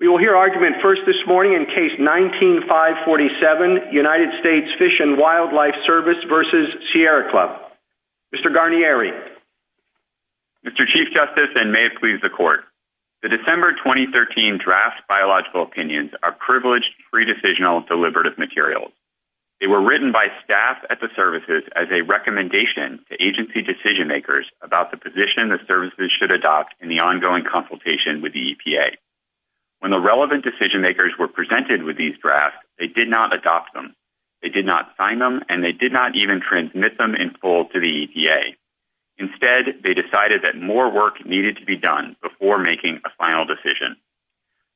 We will hear argument first this morning in Case 19-547, United States Fish and Wildlife Service v. Sierra Club. Mr. Garnieri. Mr. Chief Justice, and may it please the Court, the December 2013 draft biological opinions are privileged, free-decisional, deliberative materials. They were written by staff at the services as a recommendation to agency decision-makers about the position the services should adopt in the ongoing consultation with the EPA. When the relevant decision-makers were presented with these drafts, they did not adopt them. They did not sign them, and they did not even transmit them in full to the EPA. Instead, they decided that more work needed to be done before making a final decision.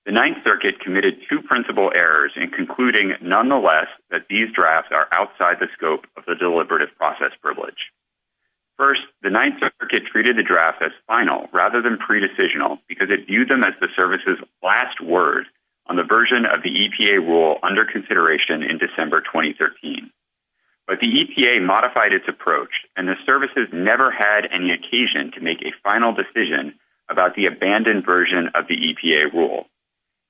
The Ninth Circuit committed two principal errors in concluding, nonetheless, that these drafts are outside the scope of the deliberative process privilege. First, the Ninth Circuit treated the draft as final rather than pre-decisional because it viewed them as the services' last words on the version of the EPA rule under consideration in December 2013. But the EPA modified its approach, and the services never had any occasion to make a final decision about the abandoned version of the EPA rule.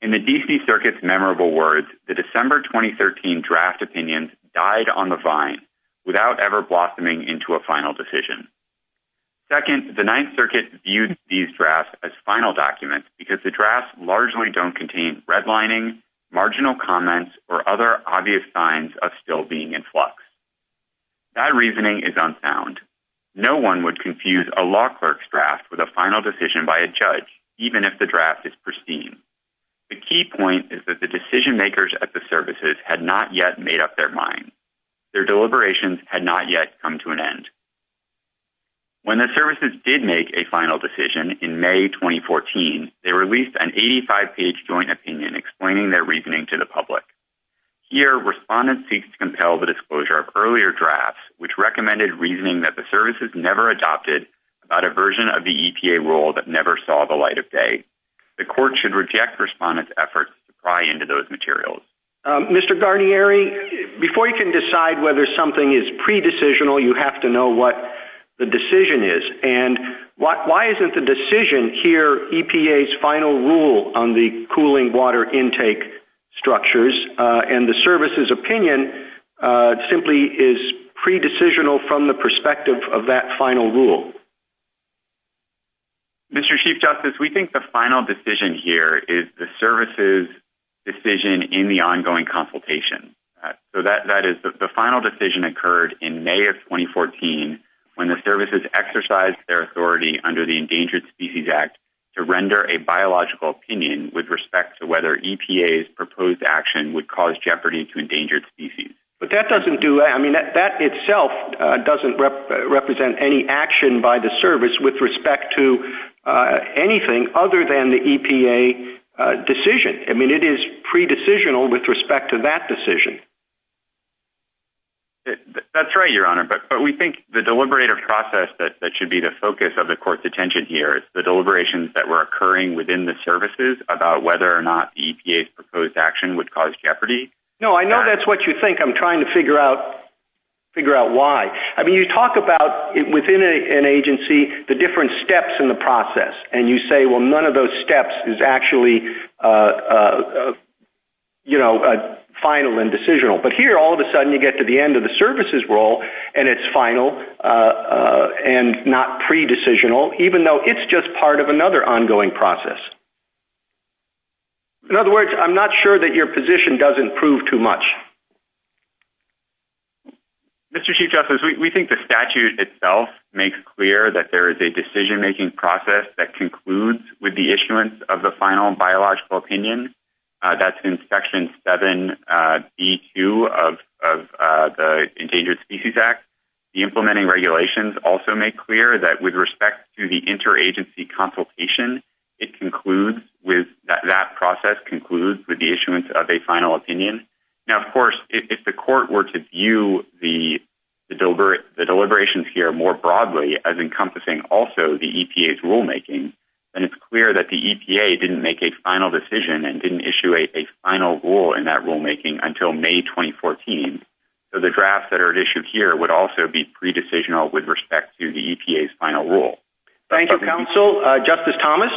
In the D.C. Circuit's memorable words, the December 2013 draft opinions died on the vine without ever blossoming into a final decision. Second, the Ninth Circuit viewed these drafts as final documents because the drafts largely don't contain redlining, marginal comments, or other obvious signs of still being in flux. That reasoning is unfound. No one would confuse a law clerk's draft with a final decision by a judge, even if the draft is pristine. The key point is that the decision-makers at the services had not yet made up their minds. Their deliberations had not yet come to an end. When the services did make a final decision in May 2014, they released an 85-page joint opinion explaining their reasoning to the public. Here, respondents seek to compel the disclosure of earlier drafts, which recommended reasoning that the services never adopted about a version of the EPA rule that never saw the light of day. The court should reject respondents' efforts to pry into those materials. Mr. Garnieri, before you can decide whether something is pre-decisional, you have to know what the decision is. Why isn't the decision here EPA's final rule on the cooling water intake structures, and the services' opinion simply is pre-decisional from the perspective of that final rule? Mr. Chief Justice, we think the final decision here is the services' decision in the ongoing consultation. So, that is, the final decision occurred in May of 2014 when the services exercised their authority under the Endangered Species Act to render a biological opinion with respect to whether EPA's proposed action would cause jeopardy to endangered species. But that doesn't do, I mean, that itself doesn't represent any action by the service with respect to anything other than the EPA decision. I mean, it is pre-decisional with respect to that decision. That's right, Your Honor, but we think the deliberative process that should be the focus of the court's attention here is the deliberations that were occurring within the services about whether or not EPA's proposed action would cause jeopardy. No, I know that's what you think. I'm trying to figure out why. I mean, you talk about, within an agency, the different steps in the process, and you say, well, none of those steps is actually, you know, final and decisional. But here, all of a sudden, you get to the end of the services' role, and it's final and not pre-decisional, even though it's just part of another ongoing process. In other words, I'm not sure that your position doesn't prove too much. Mr. Chief Justice, we think the statute itself makes clear that there is a decision-making process that concludes with the issuance of the final biological opinion. That's in Section 7B2 of the Endangered Species Act. The implementing regulations also make clear that with respect to the interagency consultation, it concludes with—that process concludes with the issuance of a final opinion. Now, of course, if the court were to view the deliberations here more broadly, as encompassing also the EPA's rulemaking, then it's clear that the EPA didn't make a final decision and didn't issue a final rule in that rulemaking until May 2014, so the drafts that are issued here would also be pre-decisional with respect to the EPA's final rule. Thank you, counsel. Justice Thomas?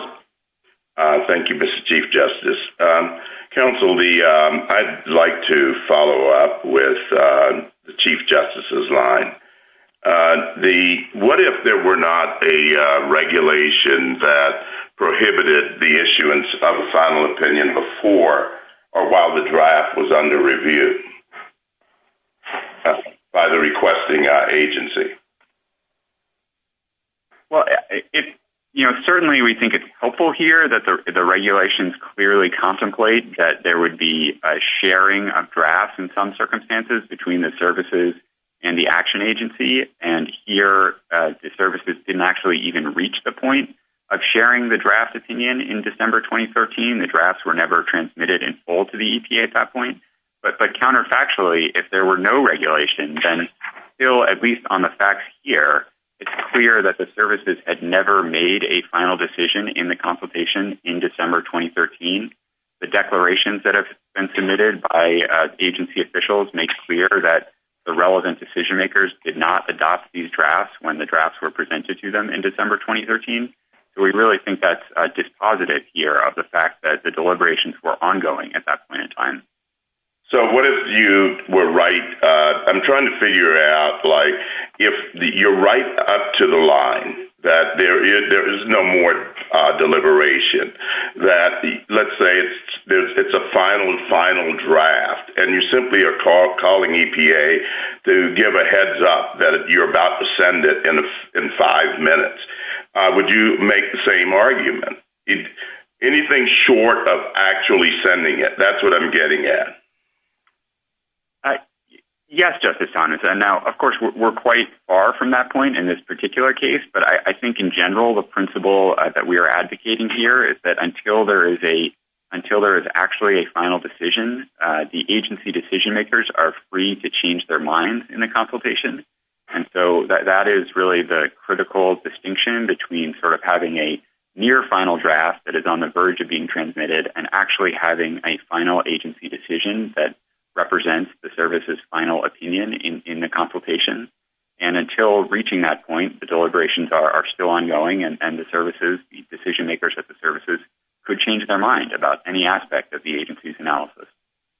Thank you, Mr. Chief Justice. Counsel, I'd like to follow up with the Chief Justice's line. What if there were not a regulation that prohibited the issuance of a final opinion before or while the draft was under review by the requesting agency? Well, you know, certainly we think it's helpful here that the regulations clearly contemplate that there would be a sharing of drafts in some circumstances between the services and the action agency, and here the services didn't actually even reach the point of sharing the draft opinion in December 2013. The drafts were never transmitted in full to the EPA at that point, but counterfactually, if there were no regulation, then still, at least on the facts here, it's clear that the services had never made a final decision in the consultation in December 2013. The declarations that have been submitted by agency officials make clear that the relevant decision-makers did not adopt these drafts when the drafts were presented to them in December 2013, so we really think that's dispositive here of the fact that the deliberations were ongoing at that point in time. So, what if you were right? I'm trying to figure out, like, if you're right up to the line that there is no more deliberation, that, let's say, it's a final, final draft, and you simply are calling EPA to give a heads-up that you're about to send it in five minutes, would you make the same argument? Anything short of actually sending it, that's what I'm getting at. Yes, Justice Thomas. Now, of course, we're quite far from that point in this particular case, but I think in general, the principle that we are advocating here is that until there is actually a final decision, the agency decision-makers are free to change their mind in the consultation, and so that is really the critical distinction between sort of having a near-final draft that is on the verge of being transmitted and actually having a final agency decision that represents the service's final opinion in the consultation, and until reaching that point, the deliberations are still ongoing, and the services, the decision-makers at the services could change their mind about any aspect of the agency's analysis.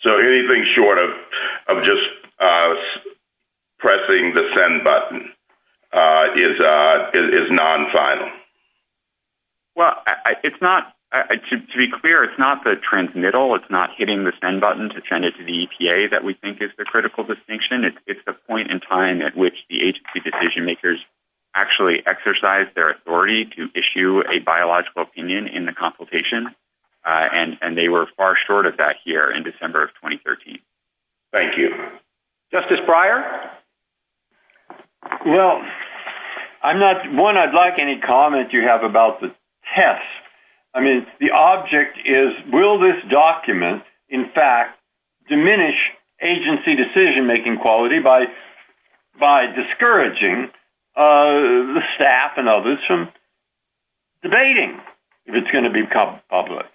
So, anything short of just pressing the send button is non-final? Well, it's not... To be clear, it's not the transmittal, it's not hitting the send button to send it to the EPA that we think is the critical distinction. It's the point in time at which the agency decision-makers actually exercise their authority to issue a biological opinion in the consultation, and they were far short of that here in the December of 2013. Thank you. Justice Breyer? Well, I'm not... One, I'd like any comment you have about the test. I mean, the object is, will this document, in fact, diminish agency decision-making quality by discouraging the staff and others from debating if it's going to become public?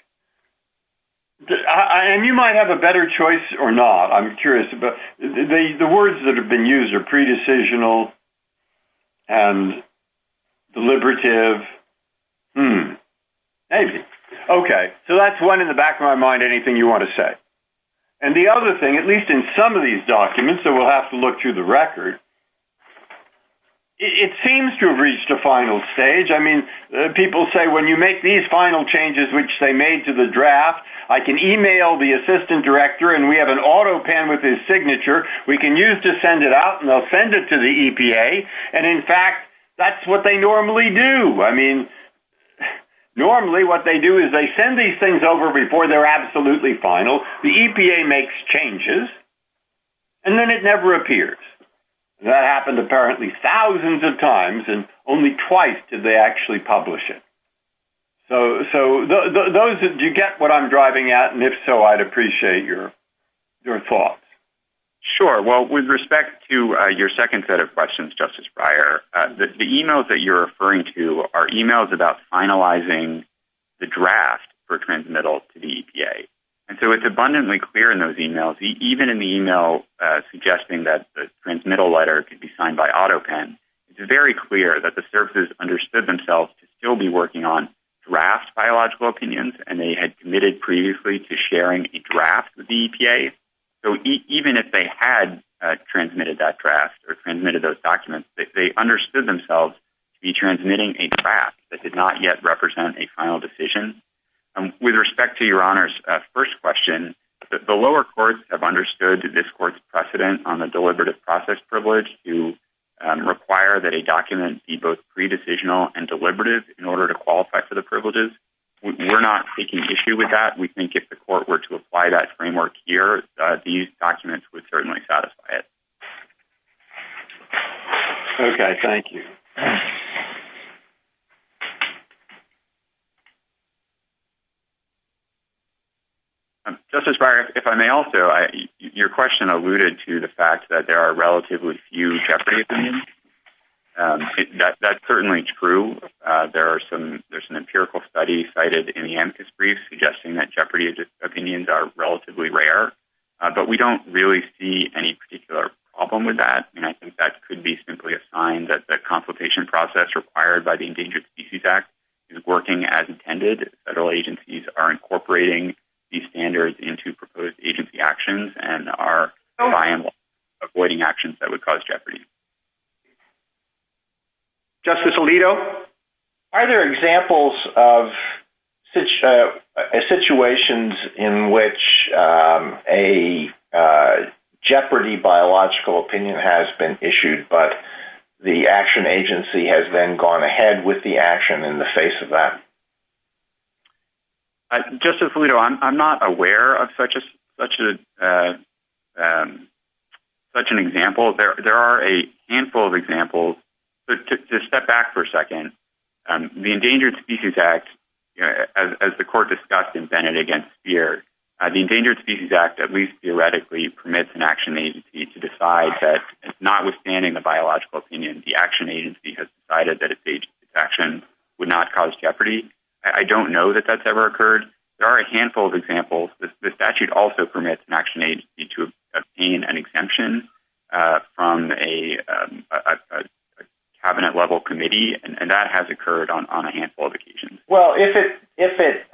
And you might have a better choice or not. I'm curious. But the words that have been used are pre-decisional and deliberative. Hmm. Maybe. Okay. So, that's one in the back of my mind, anything you want to say. And the other thing, at least in some of these documents, and we'll have to look through the record, it seems to have reached a final stage. I mean, people say, when you make these final changes, which they made to the draft, I can email the assistant director, and we have an autopan with his signature. We can use to send it out, and I'll send it to the EPA. And, in fact, that's what they normally do. I mean, normally what they do is they send these things over before they're absolutely final. The EPA makes changes, and then it never appears. That happened apparently thousands of times, and only twice did they actually publish it. So, you get what I'm driving at, and if so, I'd appreciate your thoughts. Sure. Well, with respect to your second set of questions, Justice Breyer, the emails that you're referring to are emails about finalizing the draft for transmittal to the EPA. So, it's abundantly clear in those emails, even in the email suggesting that the transmittal letter could be signed by autopan, it's very clear that the services understood themselves to still be working on draft biological opinions, and they had committed previously to sharing a draft with the EPA. So, even if they had transmitted that draft or transmitted those documents, they understood themselves to be transmitting a draft that did not yet represent a final decision. With respect to Your Honor's first question, the lower courts have understood this court's precedent on the deliberative process privilege to require that a document be both pre-decisional and deliberative in order to qualify for the privileges. We're not taking issue with that. We think if the court were to apply that framework here, these documents would certainly satisfy it. Okay. Thank you. Justice Breyer, if I may also, your question alluded to the fact that there are relatively few jeopardy opinions. That's certainly true. There's an empirical study cited in the AMCUS brief suggesting that jeopardy opinions are relatively rare, but we don't really see any particular problem with that, and I think that could be simply a sign that the consultation process required by the Endangered Species Act is working as intended. Federal agencies are incorporating these standards into proposed agency actions and are reliable, avoiding actions that would cause jeopardy. Justice Alito, are there examples of situations in which a jeopardy biological opinion has been issued, but the action agency has then gone ahead with the action in the face of that? Justice Alito, I'm not aware of such an example. There are a handful of examples. To step back for a second, the Endangered Species Act, as the court discussed in Bennett against Spears, the Endangered Species Act at least theoretically permits an action agency to decide that, notwithstanding the biological opinion, the action agency has decided that its action would not cause jeopardy. I don't know that that's ever occurred. There are a handful of examples. The statute also permits an action agency to obtain an exemption from a cabinet-level committee, and that has occurred on a handful of occasions. Well, if it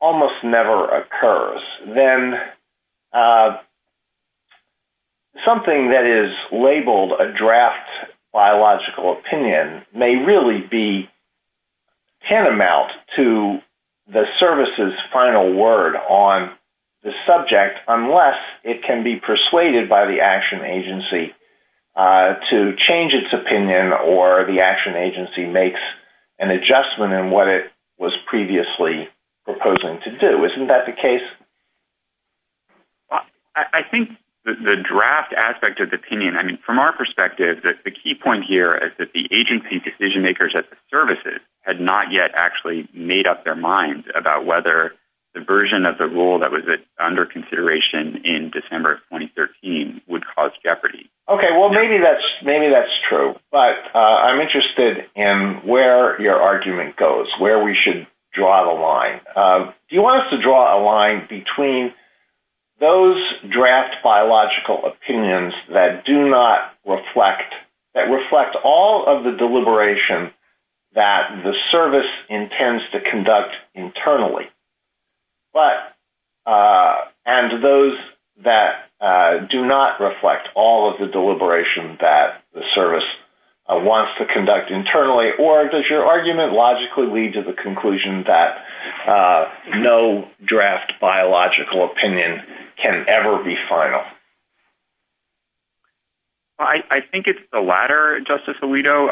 almost never occurs, then something that is labeled a draft biological opinion may really be tantamount to the service's final word on the subject unless it can be persuaded by the action agency to change its opinion or the action agency makes an adjustment in what it was previously proposing to do. Isn't that the case? I think the draft aspect of the opinion, I mean, from our perspective, the key point here is that the agency decision-makers at the services had not yet actually made up their minds about whether the version of the rule that was under consideration in December of 2013 would cause jeopardy. Okay, well, maybe that's true, but I'm interested in where your argument goes, where we should draw the line. Do you want us to draw a line between those draft biological opinions that do not reflect, that reflect all of the deliberation that the service intends to conduct internally, or does your argument logically lead to the conclusion that no draft biological opinion can ever be final? I think it's the latter, Justice Alito.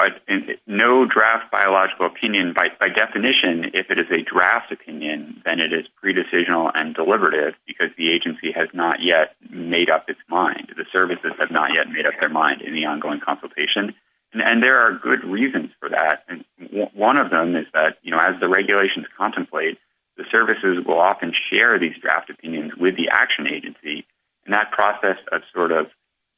No draft biological opinion, by definition, if it is a draft opinion, then it is pre-decisional and deliberative because the agency has not yet made up its mind. The services have not yet made up their mind in the ongoing consultation, and there are good reasons for that. One of them is that, you know, as the regulations contemplate, the services will often share these draft opinions with the action agency, and that process of sort of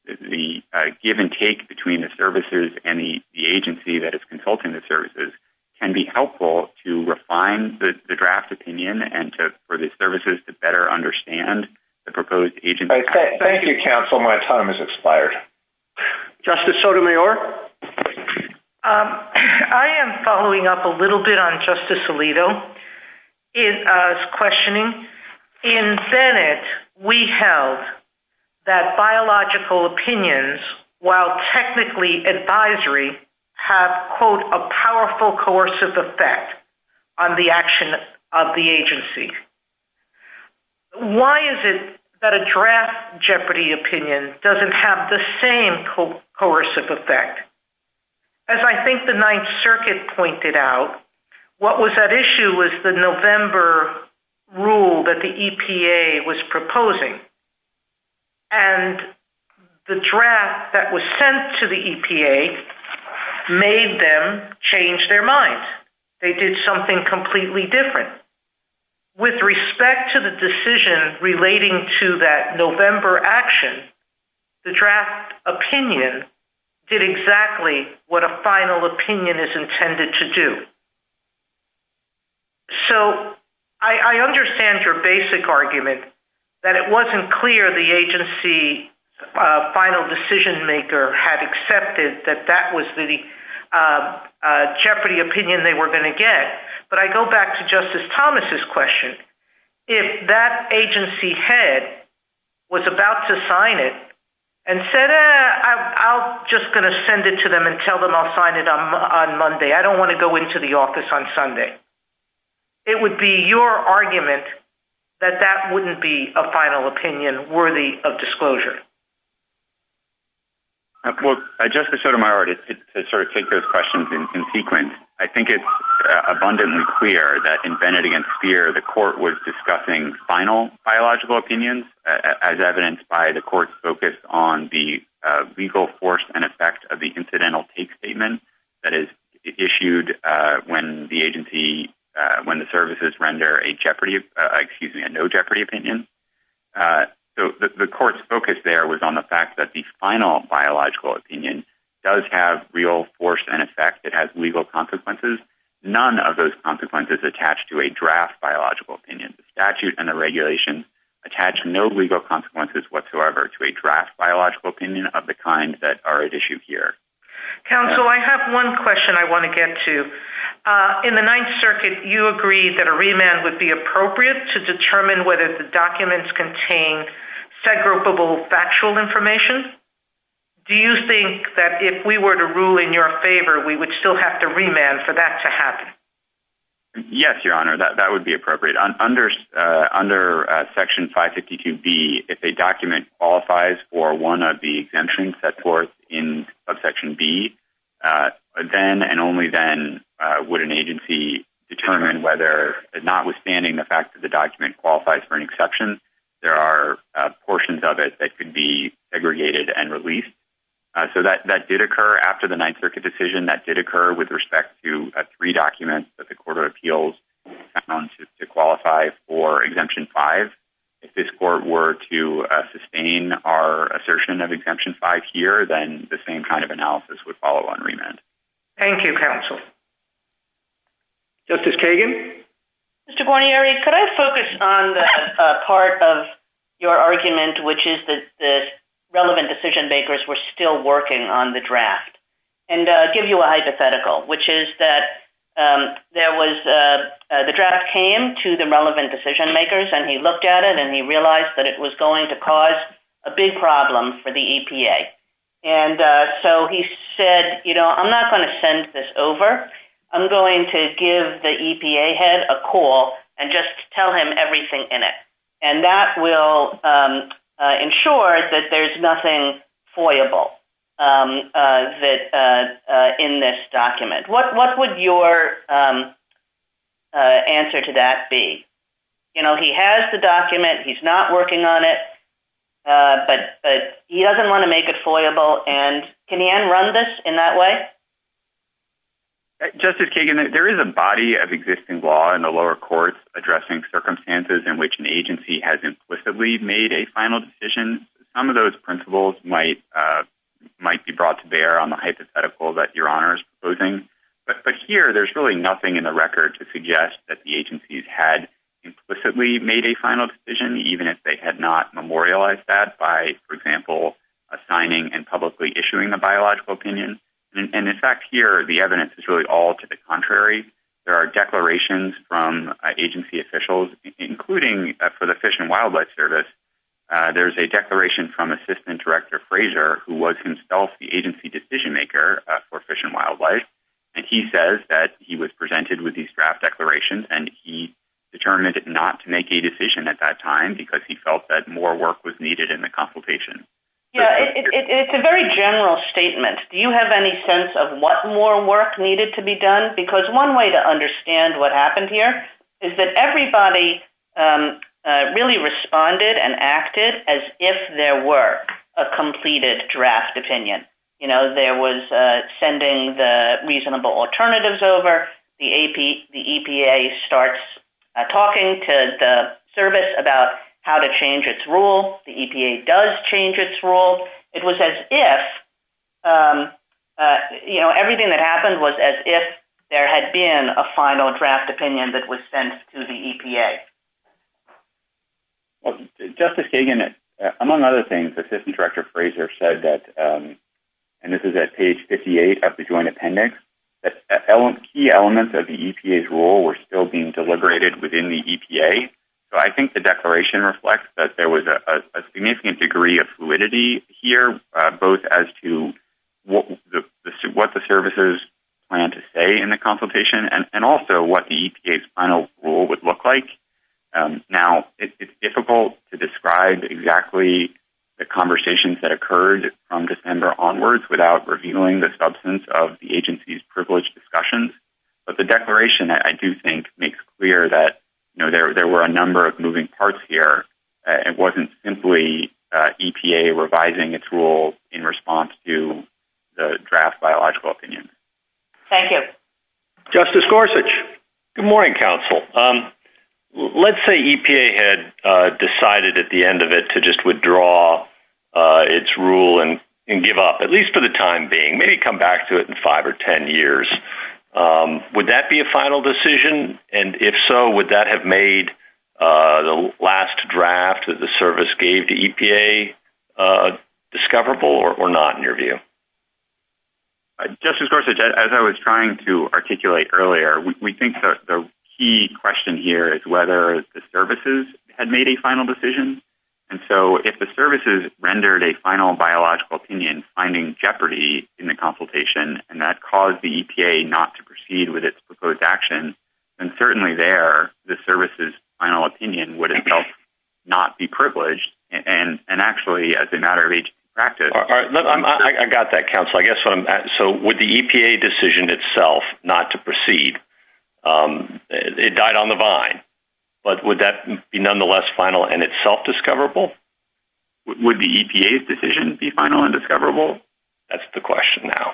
the give and take between the services and the agency that is consulting the services can be helpful to refine the draft opinion and for the services to better understand the proposed agency. Thank you, counsel. My time has expired. Justice Sotomayor? I am following up a little bit on Justice Alito's questioning. In Senate, we held that biological opinions, while technically advisory, have, quote, a powerful coercive effect on the action of the agency. Why is it that a draft Jeopardy opinion doesn't have the same coercive effect? As I think the Ninth Circuit pointed out, what was at issue was the November rule that the EPA was proposing, and the draft that was sent to the EPA made them change their minds. They did something completely different. With respect to the decision relating to that November action, the draft opinion did exactly what a final opinion is intended to do. So I understand your basic argument, that it wasn't clear the agency final decision maker had accepted that that was the Jeopardy opinion they were going to get. But I go back to Justice Thomas' question. If that agency head was about to sign it and said, I'm just going to send it to them and tell them I'll sign it on Monday, I don't want to go into the office on Sunday, it would be your argument that that wouldn't be a final opinion worthy of disclosure. Justice Sotomayor, to take those questions in sequence, I think it's abundantly clear that in Bennett v. Speer, the court was discussing final biological opinions, as evidenced by the court's focus on the legal force and effect of the incidental take statement that is issued when the agency, when the services render a Jeopardy, excuse me, a no Jeopardy opinion. So the court's focus there was on the fact that the final biological opinion does have real force and effect. It has legal consequences. None of those consequences attach to a draft biological opinion. The statute and the regulation attach no legal consequences whatsoever to a draft biological opinion of the kind that are at issue here. Counsel, I have one question I want to get to. In the Ninth Circuit, you agreed that a remand would be appropriate to determine whether the documents contained segregable factual information. Do you think that if we were to rule in your favor, we would still have to remand for that to happen? Yes, Your Honor, that would be appropriate. Under Section 552B, if a document qualifies for one of the exemptions set forth in Subsection B, then and only then would an agency determine whether, notwithstanding the fact that the document qualifies for an exception, there are portions of it that could be segregated and released. So that did occur after the Ninth Circuit decision. That did occur with respect to three documents that the Court of Appeals found to qualify for Exemption 5. If this Court were to sustain our assertion of Exemption 5 here, then the same kind of analysis would follow on remand. Thank you, Counsel. Justice Kagan? Mr. Guarnieri, could I focus on the part of your argument, which is that the relevant decision-makers were still working on the draft, and give you a hypothetical, which is that the draft came to the relevant decision-makers, and he looked at it, and he realized that it was going to cause a big problem for the EPA. And so he said, you know, I'm not going to send this over. I'm going to give the EPA head a call and just tell him everything in it. And that will ensure that there's nothing foiable in this document. What would your answer to that be? You know, he has the document. He's not working on it. But he doesn't want to make it foiable. And can he un-run this in that way? Justice Kagan, there is a body of existing law in the lower courts addressing circumstances in which an agency has implicitly made a final decision. Some of those principles might be brought to bear on the hypothetical that Your Honor is proposing. But here, there's really nothing in the record to suggest that the agencies had implicitly made a final decision, even if they had not memorialized that by, for example, assigning and publicly issuing a biological opinion. And, in fact, here, the evidence is really all to the contrary. There are declarations from agency officials, including for the Fish and Wildlife Service, there's a declaration from Assistant Director Frazier, who was himself the agency decision maker for Fish and Wildlife. And he says that he was presented with these draft declarations and he determined not to make a decision at that time because he felt that more work was needed in the consultation. Yeah, it's a very general statement. Do you have any sense of what more work needed to be done? Because one way to understand what happened here is that everybody really responded and acted as if there were a completed draft opinion. You know, there was sending the reasonable alternatives over. The EPA starts talking to the service about how to change its rule. The EPA does change its rule. It was as if, you know, everything that happened was as if there had been a final draft opinion that was sent to the EPA. Justice Kagan, among other things, Assistant Director Frazier said that, and this is at page 58 of the joint appendix, that key elements of the EPA's rule were still being deliberated within the EPA. So I think the declaration reflects that there was a significant degree of fluidity here, both as to what the services plan to say in the consultation and also what the EPA's final rule would look like. Now, it's difficult to describe exactly the conversations that occurred from December onwards without revealing the substance of the agency's privileged discussions, but the declaration, I do think, makes clear that, you know, there were a number of moving parts here. It wasn't simply EPA revising its rule in response to the draft biological opinion. Thank you. Justice Gorsuch. Good morning, counsel. Let's say EPA had decided at the end of it to just withdraw its rule and give up, at least for the time being, maybe come back to it in five or ten years. Would that be a final decision? And if so, would that have made the last draft that the service gave the EPA discoverable or not in your view? Justice Gorsuch, as I was trying to articulate earlier, we think that the key question here is whether the services had made a final decision. And so if the services rendered a final biological opinion, finding jeopardy in the consultation, and that caused the EPA not to proceed with its proposed action, then certainly there the service's final opinion would, in effect, not be privileged and actually as a matter of agency practice. I got that, counsel. So would the EPA decision itself not to proceed? It died on the vine. But would that be nonetheless final and itself discoverable? Would the EPA's decision be final and discoverable? That's the question now.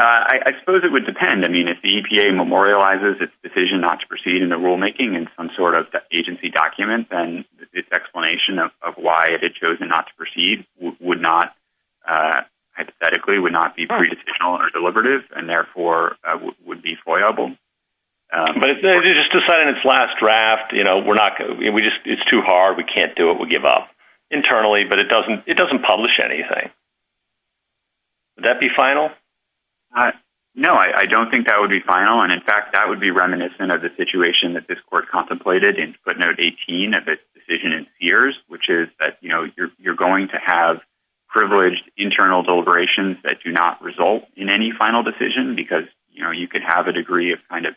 I suppose it would depend. I mean, if the EPA memorializes its decision not to proceed in the rulemaking in some sort of agency document, then this explanation of why it had chosen not to proceed would not, hypothetically, would not be pre-decisional or deliberative and therefore would be deployable. But it's just decided in its last draft, you know, we're not, we just, it's too hard. We can't do it. We'll give up internally, but it doesn't, it doesn't publish anything. Would that be final? No, I don't think that would be final. And in fact, that would be reminiscent of the situation that this court contemplated in footnote 18 of its decision in Sears, which is that, you know, you're, you're going to have privileged internal deliberations that do not result in any final decision because, you know, you could have a degree of kind of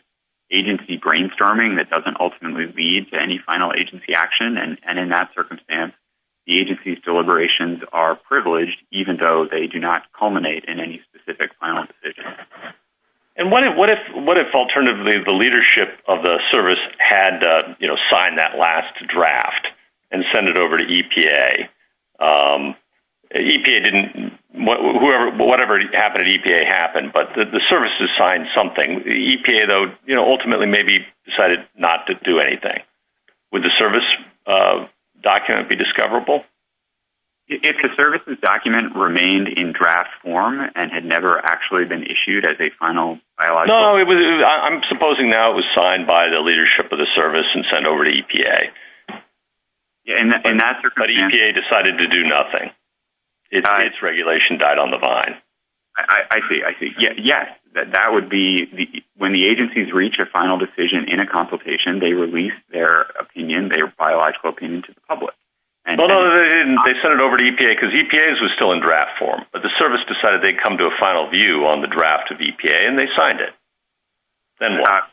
agency brainstorming that doesn't ultimately lead to any final agency action. And in that circumstance, the agency's deliberations are privileged even though they do not culminate in any specific final decision. And what if, what if, what if alternatively the leadership of the service had, you know, signed that last draft and send it over to EPA? EPA didn't, whatever happened at EPA happened, but the services signed something. The EPA though, you know, ultimately maybe decided not to do anything. Would the service document be discoverable? If the services document remained in draft form and had never actually been issued as a final. No, it was, I'm supposing now it was signed by the leadership of the service and sent over to EPA. But EPA decided to do nothing. Its regulation died on the vine. I see. I see. Yeah. That would be the, when the agencies reach a final decision in a consultation, they release their opinion, their biological opinion to the public. They sent it over to EPA because EPA was still in draft form, but the service decided they'd come to a final view on the draft of EPA and they signed it. Then that,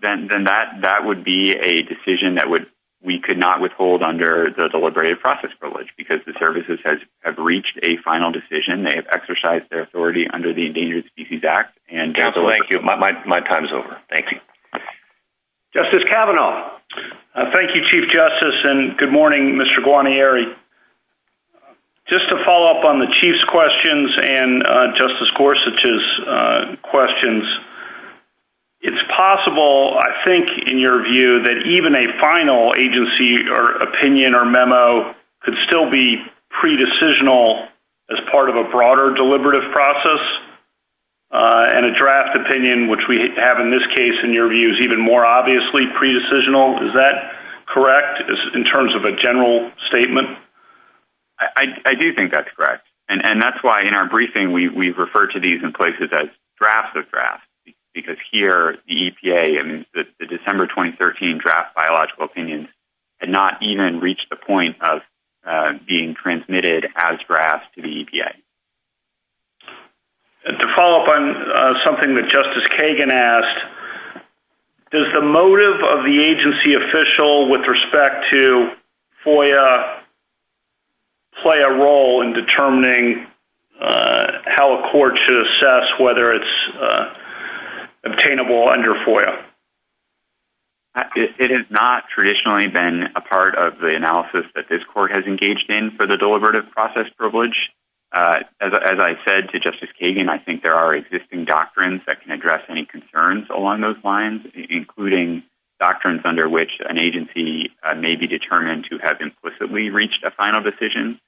then, then that, that would be a decision that would, we could not withhold under the deliberative process privilege because the services has reached a final decision. They have exercised their authority under the endangered species act. And thank you. My, my, my time is over. Thank you. Justice Kavanaugh. Thank you, chief justice. And good morning, Mr. Guarnieri. Just to follow up on the chief's questions and justice Gorsuch's questions. It's possible. I think in your view that even a final agency or opinion or memo could still be pre-decisional as part of a broader deliberative process. And a draft opinion, which we have in this case in your view is even more obviously pre-decisional. Is that correct? In terms of a general statement. I do think that's correct. And that's why in our briefing, we refer to these in places as drafts of drafts because here the EPA, I mean, the December 2013 draft biological opinions and not even reach the point of being transmitted as drafts to the EPA. To follow up on something that justice Kagan asked, does the motive of the agency official with respect to FOIA play a role in determining how a court should assess whether it's obtainable under FOIA? It is not traditionally been a part of the analysis that this court has engaged in for the deliberative process privilege. As I said to justice Kagan, I think there are existing doctrines that can address any concerns along those lines, including doctrines under which an agency may be determined to have implicitly reached a final decision,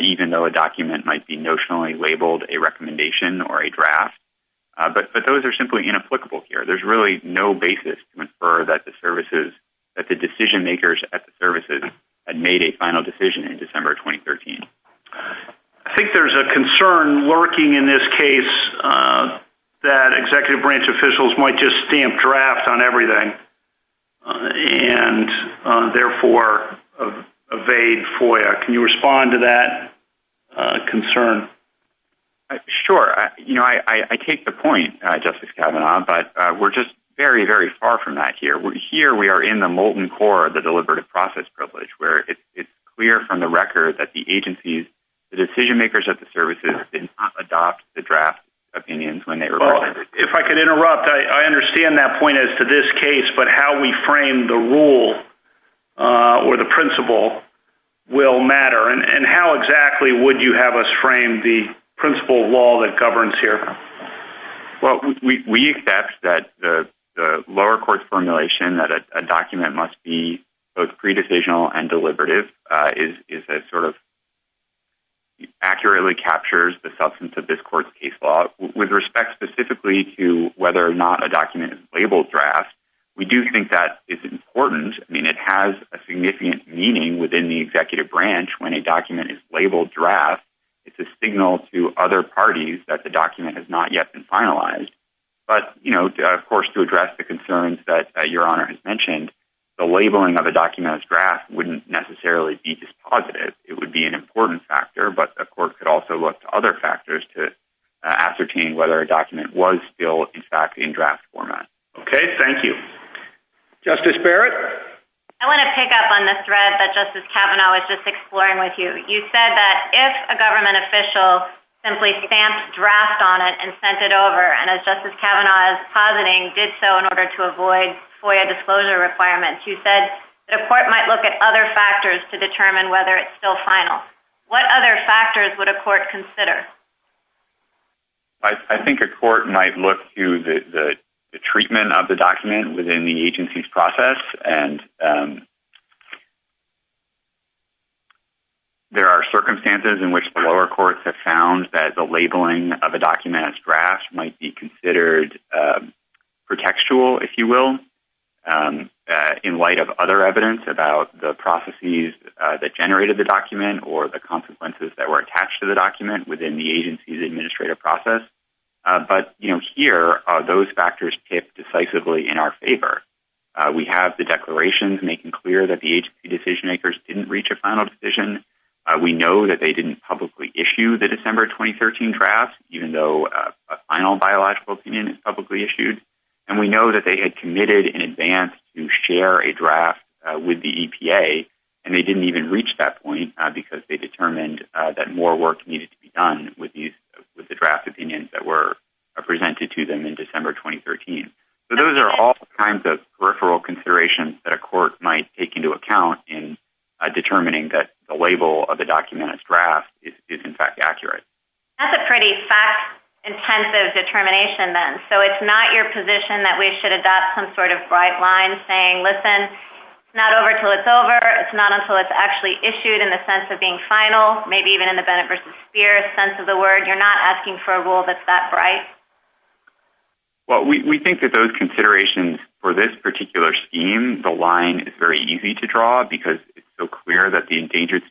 even though a document might be notionally labeled a recommendation or a draft. But those are simply inapplicable here. There's really no basis for that. The services that the decision makers at the services had made a final decision in December, 2013. I think there's a concern lurking in this case that executive branch officials might just stamp draft on everything and therefore evade FOIA. Can you respond to that concern? Sure. I take the point justice Kagan, but we're just very, very far from that here. Here we are in the molten core of the deliberative process privilege where it's clear from the record that the agencies, the decision makers at the services didn't adopt the draft opinions when they were. If I could interrupt, I understand that point as to this case, but how we frame the rule or the principle will matter. And how exactly would you have us frame the principle of law that governs here? Well, we expect that the lower court formulation that a document must be both indecisional and deliberative is, is that sort of accurately captures the substance of this court's case law with respect specifically to whether or not a document is labeled draft. We do think that it's important. I mean, it has a significant meaning within the executive branch when a document is labeled draft. It's a signal to other parties that the document has not yet been finalized, but you know, of course, to address the concerns that your honor has mentioned, the labeling of a document as draft wouldn't necessarily be just positive. It would be an important factor, but of course, it also looks to other factors to ascertain whether a document was still in fact in draft format. Okay. Thank you. Justice Barrett. I want to pick up on the thread that justice Kavanaugh was just exploring with you. You said that if a government official simply stamped draft on it and sent it over and as justice Kavanaugh is positing did so in order to avoid FOIA disclosure requirements, you said that a court might look at other factors to determine whether it's still final. What other factors would a court consider? I think a court might look to the treatment of the document within the agency's process. And there are circumstances in which the lower courts have found that the labeling of a document as draft might be considered pretextual, if you will, in light of other evidence about the processes that generated the document or the consequences that were attached to the document within the agency's administrative process. But, you know, here are those factors tip decisively in our favor. We have the declarations making clear that the agency decision makers didn't reach a final decision. We know that they didn't publicly issue the December, 2013 draft, even though a final biological opinion is publicly issued. And we know that they had committed in advance to share a draft with the EPA and they didn't even reach that point because they determined that more work needed to be done with these, with the draft opinions that were presented to them in December, 2013. So those are all kinds of referral considerations that a court might take into account in determining that the label of the document as draft is in fact accurate. That's a pretty fact intensive determination then. So it's not your position that we should adopt some sort of bright line saying, listen, it's not over until it's over. It's not until it's actually issued in the sense of being final, maybe even in the benefit versus fear sense of the word, you're not asking for a rule that's that bright. Well, we think that those considerations for this particular scheme, the line is very easy to draw because it's so clear that the Endangered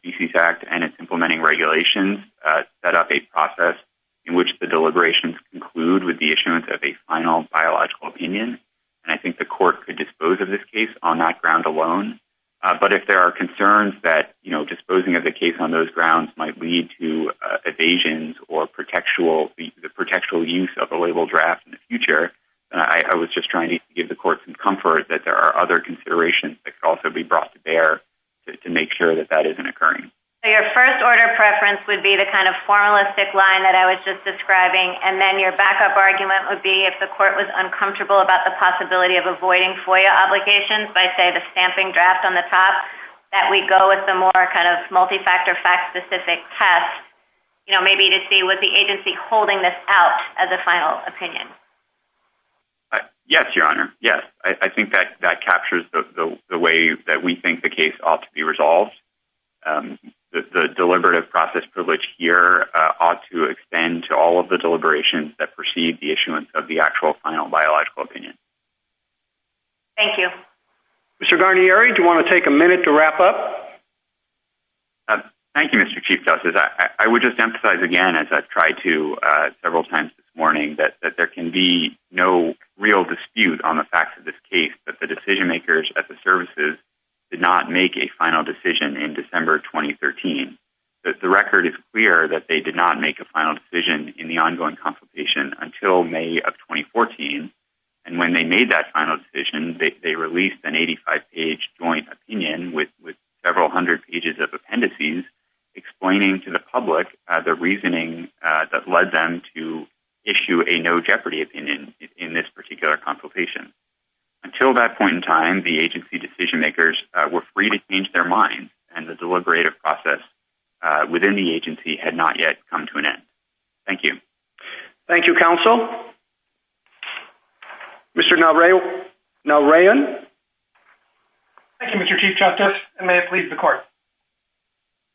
Animal Regulations set up a process in which the deliberations conclude with the issuance of a final biological opinion. And I think the court could dispose of this case on that ground alone. But if there are concerns that, you know, disposing of the case on those grounds might lead to evasions or protectual use of the label draft in the future, I was just trying to give the court some comfort that there are other considerations that could also be brought to bear to make sure that that isn't occurring. Your first order of preference would be the kind of formalistic line that I was just describing. And then your backup argument would be if the court was uncomfortable about the possibility of avoiding FOIA obligations by say the stamping draft on the top, that we go with the more kind of multi-factor fact specific test, you know, maybe to see what the agency holding this out as a final opinion. Yes, Your Honor. Yes. I think that that captures the way that we think the case ought to be handled. The deliberative process privilege here ought to extend to all of the deliberations that proceed the issuance of the actual final biological opinion. Thank you. Mr. Garnieri, do you want to take a minute to wrap up? Thank you, Mr. Chief Justice. I would just emphasize again, as I've tried to several times this morning, that there can be no real dispute on the facts of this case, but the decision makers at the services did not make a final decision in December, 2013. But the record is clear that they did not make a final decision in the ongoing consultation until May of 2014. And when they made that final decision, they released an 85 page joint opinion with several hundred pages of appendices explaining to the public the reasoning that led them to issue a no jeopardy opinion in this particular consultation. Until that point in time, the agency decision makers were free to change their minds and the deliberative process within the agency had not yet come to an end. Thank you. Thank you, counsel. Mr. Nalrayan. Thank you, Mr. Chief Justice. And may it please the court.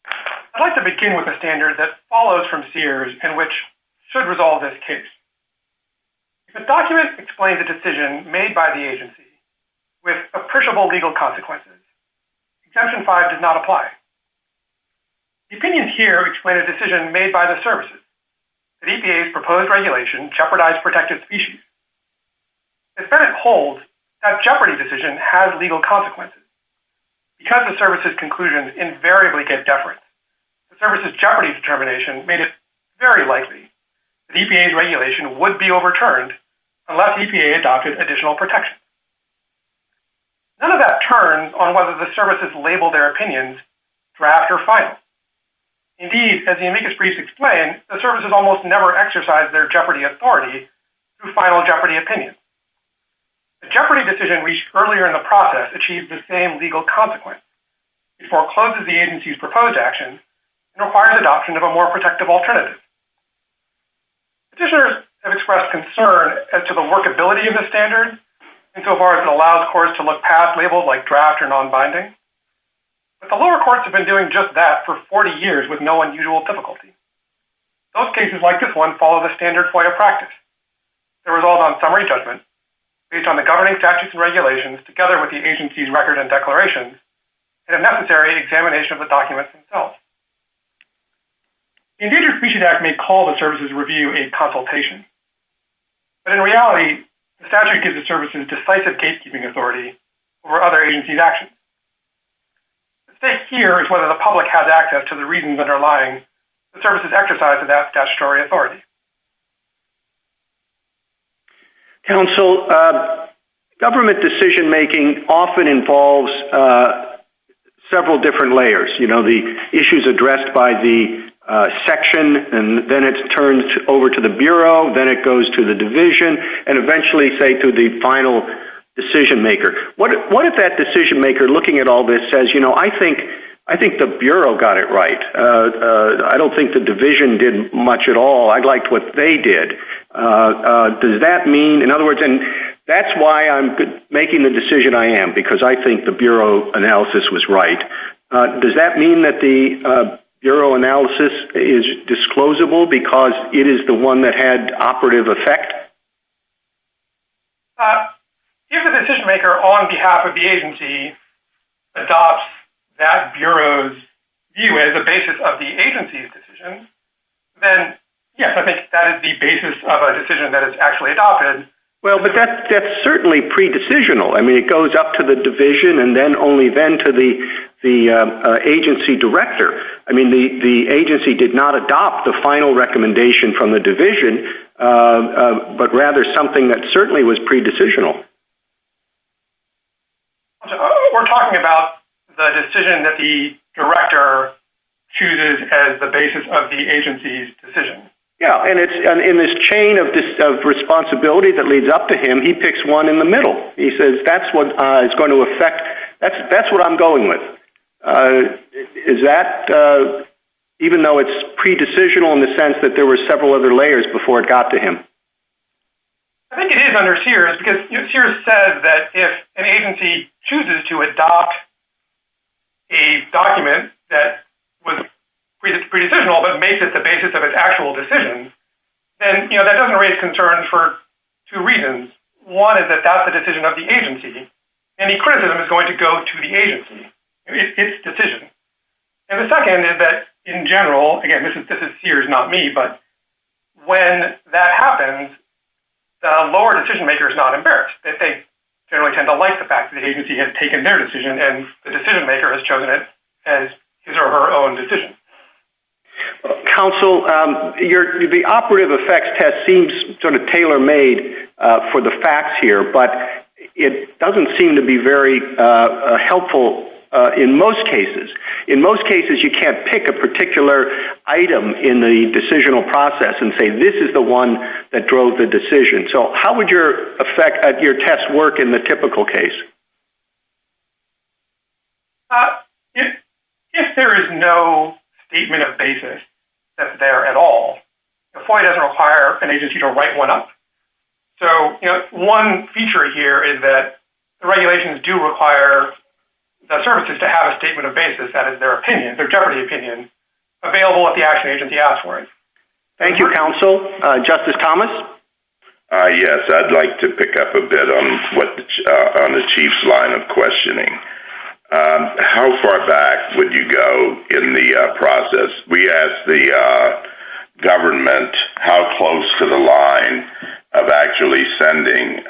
I'd like to begin with a standard that follows from Sears and which should resolve this case. The document explains the decision made by the agency with appreciable legal consequences. Exemption five does not apply. The opinions here explain a decision made by the services. The EPA's proposed regulation jeopardized protective species. It's fair to hold that jeopardy decision has legal consequences. Because the services conclusions invariably get deferred. The services jeopardy determination made it very likely that EPA's proposed regulation would be overturned unless EPA adopted additional protection. None of that turns on whether the services label their opinions draft or final. Indeed, as the amicus brief explained, the services almost never exercised their jeopardy authority to final jeopardy opinion. The jeopardy decision reached earlier in the process achieved the same legal consequence. It forecloses the agency's proposed action and requires adoption of a more protective alternative. The lower courts have expressed concern as to the workability of the standard and so far as it allows courts to look past labels like draft or non-binding. But the lower courts have been doing just that for 40 years with no unusual difficulty. Those cases like this one follow the standard quiet practice. The result on summary judgment based on the governing statutes and regulations together with the agency's record and declarations and a necessary examination of the documents themselves. The Endangered Species Act may call the services review a consultation. But in reality, the statute gives the services decisive case-keeping authority over other agency's actions. The stake here is whether the public has access to the reasons underlying the services exercise of that statutory authority. Council, government decision-making often involves several different layers. You know, the issues addressed by the section and then it's turned over to the Bureau, then it goes to the division, and eventually say to the final decision maker. What if that decision maker looking at all this says, you know, I think the Bureau got it right. I don't think the division did much at all. I liked what they did. Does that mean, in other words, and that's why I'm making the decision I am because I think the Bureau analysis was right. Does that mean that the Bureau analysis is disclosable because it is the one that had operative effect? If the decision maker on behalf of the agency adopts that Bureau's view as a basis of the agency's decision, then yes, I think that is the basis of a decision that is actually adopted. Well, but that's certainly pre-decisional. I mean, it goes up to the division and then only then to the agency director. I mean, the agency did not adopt the final recommendation from the division, but rather something that certainly was pre-decisional. We're talking about the decision that the director chooses as the basis of the agency's decision. Yeah, and it's in this chain of responsibility that leads up to him. He picks one in the middle. He says that's what is going to affect, that's what I'm going with. Is that, even though it's pre-decisional in the sense that there were several other layers before it got to him? I think it is under Sears because Sears says that if an agency chooses to adopt a document that was pre-decisional but makes it the basis of its actual decision, then that doesn't raise concerns for two reasons. One is that that's the decision of the agency and the criticism is going to go to the agency. It's decision. And the second is that, in general, again, this is Sears, not me, but when that happens, the lower decision-maker is not embarrassed. They generally tend to like the fact that the agency has taken their decision and the decision-maker has chosen it as his or her own decision. Counsel, the operative effects test seems sort of tailor-made for the facts here, but it doesn't seem to be very helpful in most cases. In most cases, you can't pick a particular item in the decisional process and say this is the one that drove the decision. So how would your test work in the typical case? If there is no statement of basis that's there at all, the FOIA doesn't require an agency to write one up. So, you know, one feature here is that the regulations do require the services to have a statement of basis, that is, their opinion, their jeopardy opinion, available if the action agency asks for it. Thank you, Counsel. Justice Thomas? Yes, I'd like to pick up a bit on the Chief's line of questioning. How far back would you go in the process? We asked the government how close to the line of actually sending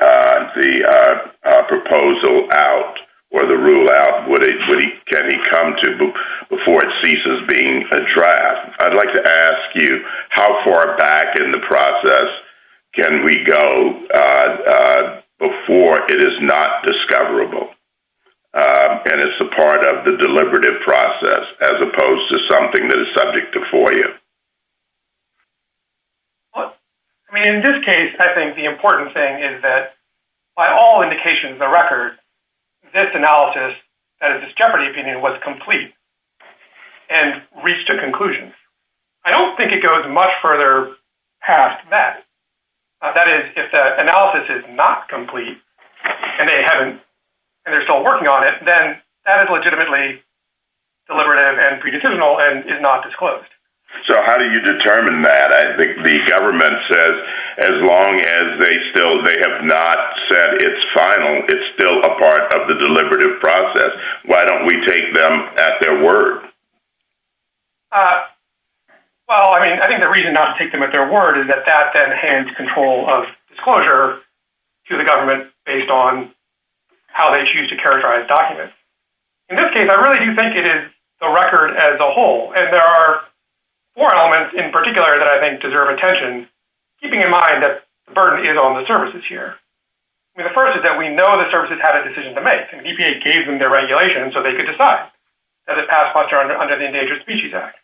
the proposal out or the rule out, can he come to before it ceases being a draft. I'd like to ask you how far back in the process can we go before it is not discoverable? And it's a part of the deliberative process as opposed to something that is subject to FOIA. Well, I mean, in this case, I think the important thing is that by all indications, the record, this analysis, that is, it's a conclusion. I don't think it goes much further past that. That is, if the analysis is not complete and they haven't, and they're still working on it, then that is legitimately deliberative and pre-decisional and is not disclosed. So how do you determine that? I think the government says as long as they still, they have not said it's final, it's still a part of the deliberative process. Why don't we take them at their word? Well, I mean, I think the reason not to take them at their word is that that then hands control of disclosure to the government based on how they choose to characterize documents. In this case, I really do think it is the record as a whole. And there are four elements in particular that I think deserve attention, keeping in mind that the burden is on the services here. The first is that we know the services had a decision to make. The EPA gave them their regulation so they could decide. That is passed under the Endangered Species Act.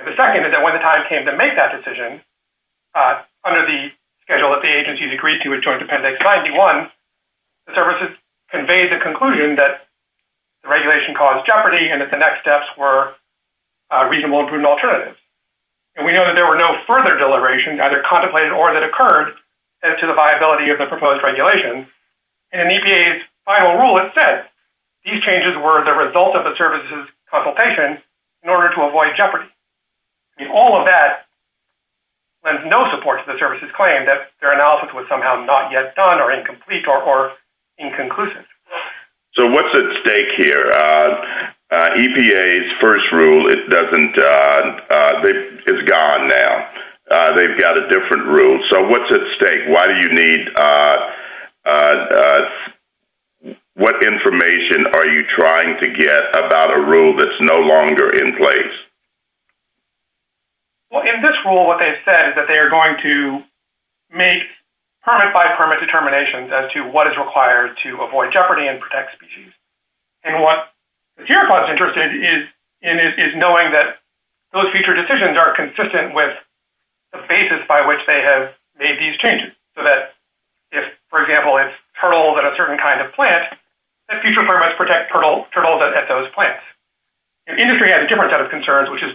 And the second is that when the time came to make that decision, under the schedule that the agencies agreed to with Joint Dependency 91, the services conveyed the conclusion that the regulation caused jeopardy and that the next steps were reasonable and prudent alternatives. And we know that there were no further deliberations, either contemplated or that occurred, as to the viability of the proposed regulations. And in EPA's final rule, it said, these changes were the result of the services' consultation in order to avoid jeopardy. And all of that, with no support for the services' claim that their analysis was somehow not yet done or incomplete or inconclusive. So what's at stake here? EPA's first rule, it doesn't, They've got a different rule. So what's at stake? Why do you need, what information are you trying to get about a rule that's no longer in place? Well, in this rule, what they've said is that they are going to make permit-by-permit determinations as to what is required to avoid jeopardy and protect species. And what, if you're interested, is knowing that those future decisions are consistent with the basis by which they have made these changes. So that if, for example, it's turtles at a certain kind of plant, that future permits protect turtles at those plants. And industry had a different set of concerns, which is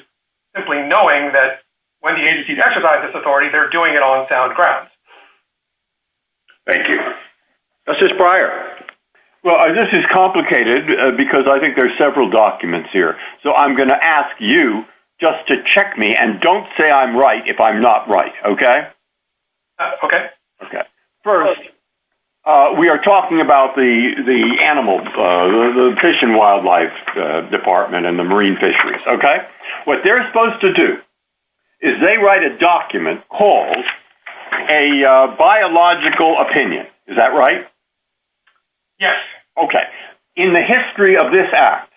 simply knowing that when the agency exercises authority, they're doing it on sound grounds. Thank you. Justice Breyer? Well, this is complicated, because I think there's several documents here. So I'm going to ask you just to check me, and don't say I'm right if I'm not right, okay? Okay. First, we are talking about the animal, the Fish and Wildlife Department and the marine fisheries, okay? What they're supposed to do is they write a document called a biological opinion. Is that right? Yes. Okay. In the history of this Act,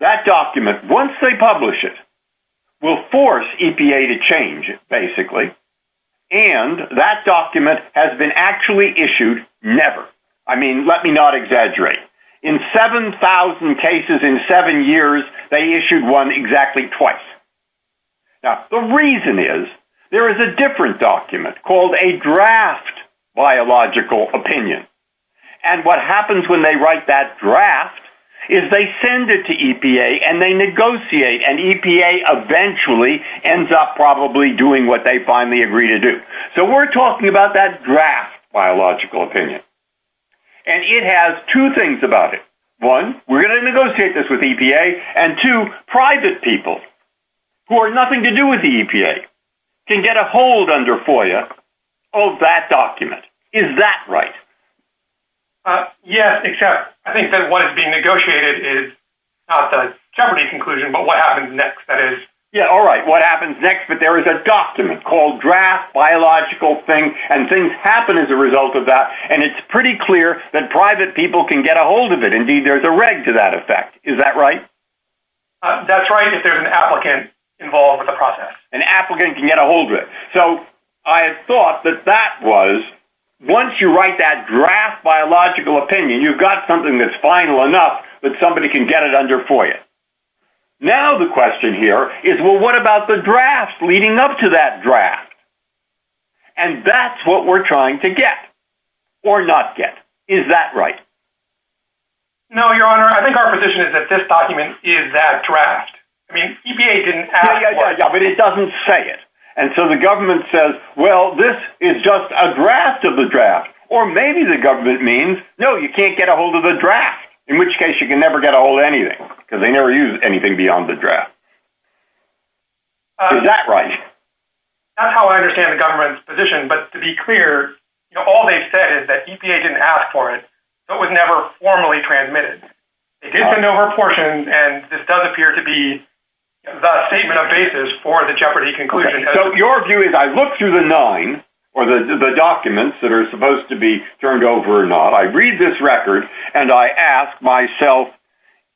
that document, once they publish it, will force EPA to change it, basically. And that document has been actually issued never. I mean, let me not exaggerate. In 7,000 cases in seven years, they issued one exactly twice. Now, the reason is, there is a different document called a draft biological opinion. And what happens when they write that draft is they send it to EPA, and they negotiate, and EPA eventually ends up probably doing what they finally agree to do. So we're talking about that draft biological opinion. And it has two things about it. One, we're going to negotiate this with EPA, and two, private people who have nothing to do with the EPA can get a hold under FOIA of that document. Is that right? Yes, it should. I think that what is being negotiated is not a jeopardy conclusion, but what happens next, that is. There is a document called draft biological thing, and things happen as a result of that, and it's pretty clear that private people can get a hold of it. Indeed, there's a reg to that effect. Is that right? That's right, if there's an applicant involved with the process. An applicant can get a hold of it. So I thought that that was, once you write that draft biological opinion, you've got something that's final enough that somebody can get it under FOIA. Now the question here is, well, what about the draft leading up to that draft? And that's what we're trying to get, or not get. Is that right? No, Your Honor, I think our position is that this document is that draft. I mean, EPA didn't ask for it. But it doesn't say it, and so the government says, well, this is just a draft of the draft, or maybe the government means, no, you can't get a hold of the draft, in which case you can never get a hold of anything because they never use anything beyond the draft. Is that right? That's how I understand the government's position, but to be clear, all they said is that EPA didn't ask for it, so it was never formally transmitted. It is an overportion, and this does appear to be the statement of basis for the Jeopardy conclusion. So your view is, I look through the nine, or the documents that are supposed to be turned over or not, I read this record, and I ask myself,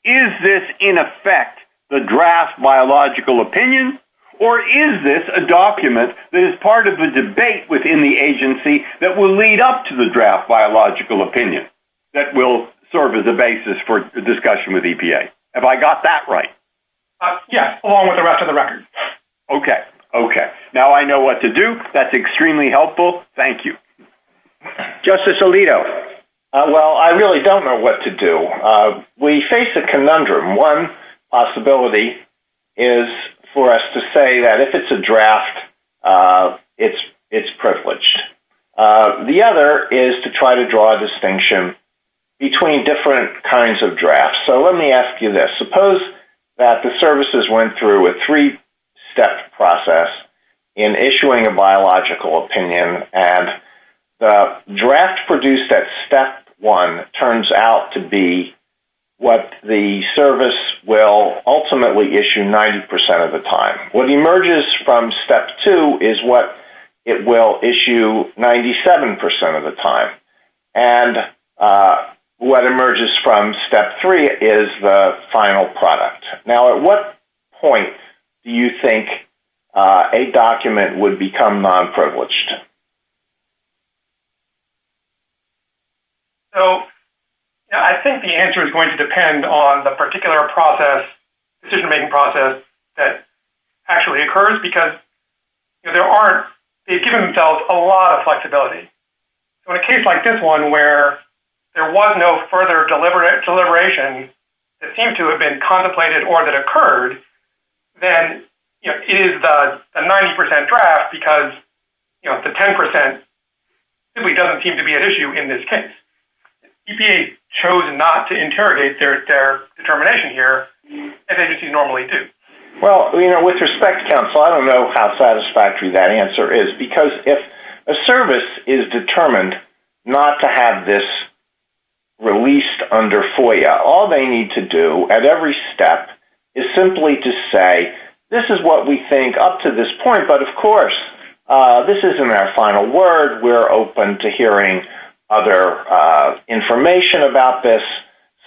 is this in effect the draft biological opinion or is this a document that is part of the debate within the agency that will lead up to the draft biological opinion that will serve as a basis for discussion with EPA? Have I got that right? Yes, along with the rest of the record. Okay, okay. Now I know what to do. That's extremely helpful. Thank you. Justice Alito, well, I really don't know what to do. We face a conundrum. One is for us to say that if it's a draft, it's privileged. The other is to try to draw a distinction between different kinds of drafts. So let me ask you this. Suppose that the services went through a three-step process in issuing a biological opinion, and the draft produced at step one turns out to be what the service will ultimately issue 90% of the time. What emerges from step two is what it will issue 97% of the time. And what emerges from step three is the final product. Now at what point do you think a document would become non-privileged? So I think the answer is going to depend on the particular process, the decision-making process that actually occurs, because they've given themselves a lot of flexibility. In a case like this one where there was no further deliberation that seems to have been contemplated or that occurred, then it is a 90% draft because the 10% simply doesn't seem to be an issue in this case. EPA chose not to interrogate their determination here as they would normally do. Well, with respect, counsel, I don't know how satisfactory that answer is, because if a service is determined not to have this released under FOIA, all they need to do at every step is simply to say, this is what we think up to this point, but of course, this isn't our final word. We're open to hearing other information about this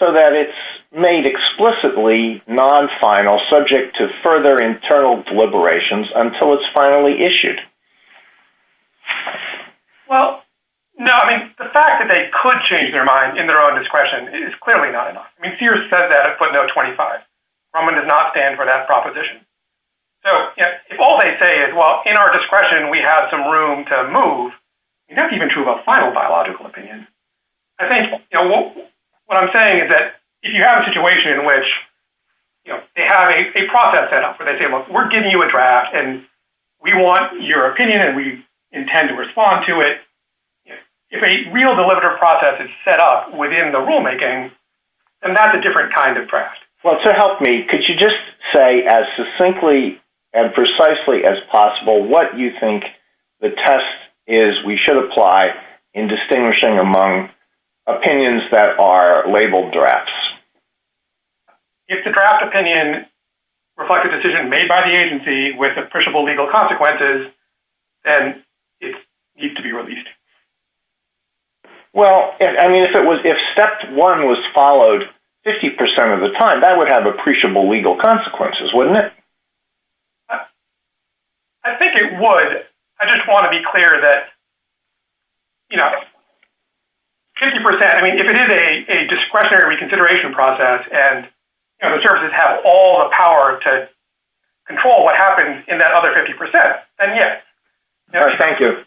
but it's made explicitly non-final, subject to further internal deliberations until it's finally issued. Well, no, I mean, the fact that they could change their mind in their own discretion is clearly not enough. I mean, Sears said that at footnote 25. Froman did not stand for that proposition. So, if all they say is, well, in our discretion, we have some room to move, you don't even have to have a final biological opinion. If you have a situation in which they have a process set up where they say, look, we're giving you a draft and we want your opinion and we intend to respond to it, if a real deliberative process is set up within the rulemaking, then that's a different kind of draft. Well, to help me, could you just say as succinctly and precisely as possible what you think the test is we should apply in distinguishing among opinions that are labeled drafts? If the draft opinion reflects a decision made by the agency with appreciable legal consequences, then it needs to be released. Well, I mean, if it was, if step one was followed 50% of the time, that would have appreciable legal consequences, wouldn't it? I think it would. I just want to be clear that, you know, 50%, I mean, if it is a discretionary reconsideration process and the services have all the power to control what happens in that other 50%, then yes. Thank you.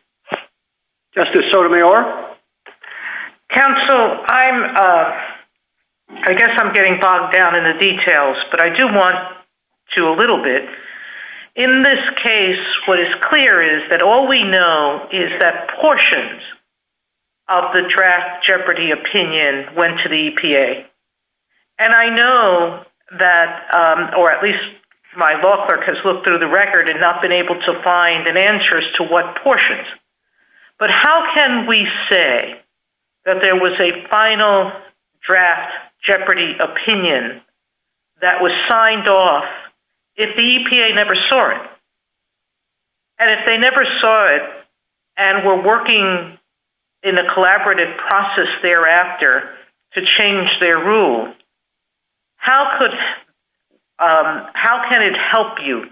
Justice Sotomayor? Counsel, I'm, I guess I'm getting bogged down in the details, but I do want to do a little bit. In this case, what is clear is that all we know is that portions of the draft Jeopardy opinion went to the EPA. And I know that, or at least my law clerk has looked through the record and not been able to find an answer as to what portions. But how can we say that there was a final draft Jeopardy opinion that was signed off if the EPA never saw it? And if they never saw it and were working in a collaborative process thereafter, to change their rules, how could, how can it help you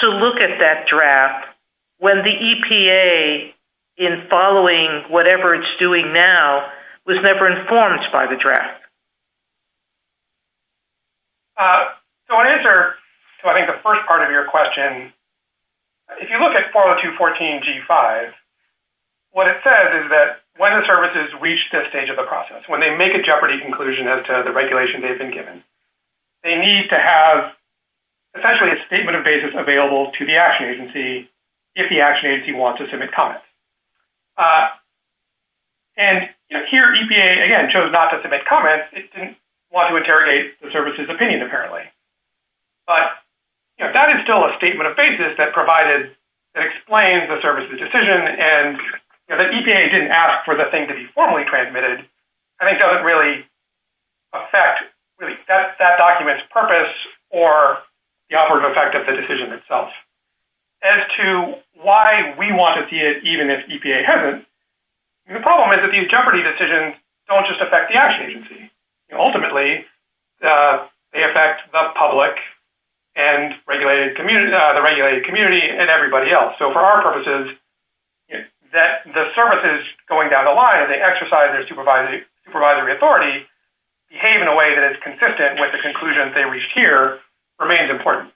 to look at that draft when the EPA, in following whatever it's doing now, was never informed by the draft? So, in answer to I think the first part of your question, if you look at 40214G5, what it says is that when the services reach this stage of the process, they need to make a Jeopardy conclusion as to the regulation they've been given. They need to have essentially a statement of basis available to the action agency if the action agency wants to submit comments. And here EPA, again, chose not to submit comments. It didn't want to interrogate the service's opinion apparently. But that is still a statement of basis that provided, that explains the service's decision and the EPA didn't ask for the thing to be formally transmitted. And it doesn't really affect that document's purpose or the upward effect of the decision itself. As to why we want to see it even if EPA hasn't, the problem is that these Jeopardy decisions don't just affect the action agency. Ultimately, they affect the public and the regulated community and everybody else. So for our purposes, the service is going down the line and they exercise their supervisory authority to behave in a way that is consistent with the conclusion they reached here remains important.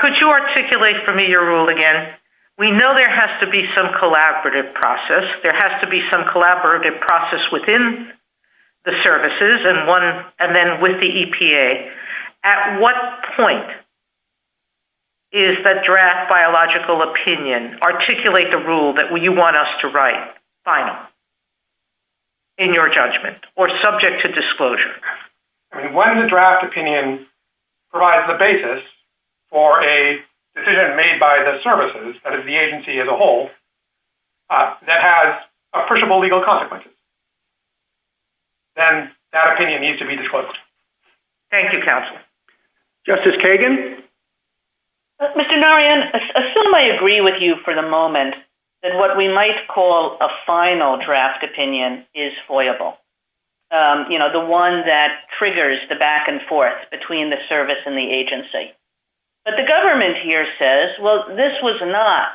Could you articulate for me your rule again? We know there has to be some collaborative process. There has to be some collaborative process within the services and then with the EPA. At what point is the draft biological opinion articulate the rule that you want us to write finally in your judgment or subject to disclosure? When the draft opinion provides the basis for a decision made by the services that is the agency as a whole that has appreciable legal consequences, then that opinion needs to be disclosed. Thank you, counsel. Justice Kagan? Mr. Narayan, I assume I agree with you for the moment that what we might call a final draft opinion is voyable. The one that triggers the back and forth between the service and the agency. But the government here says this was not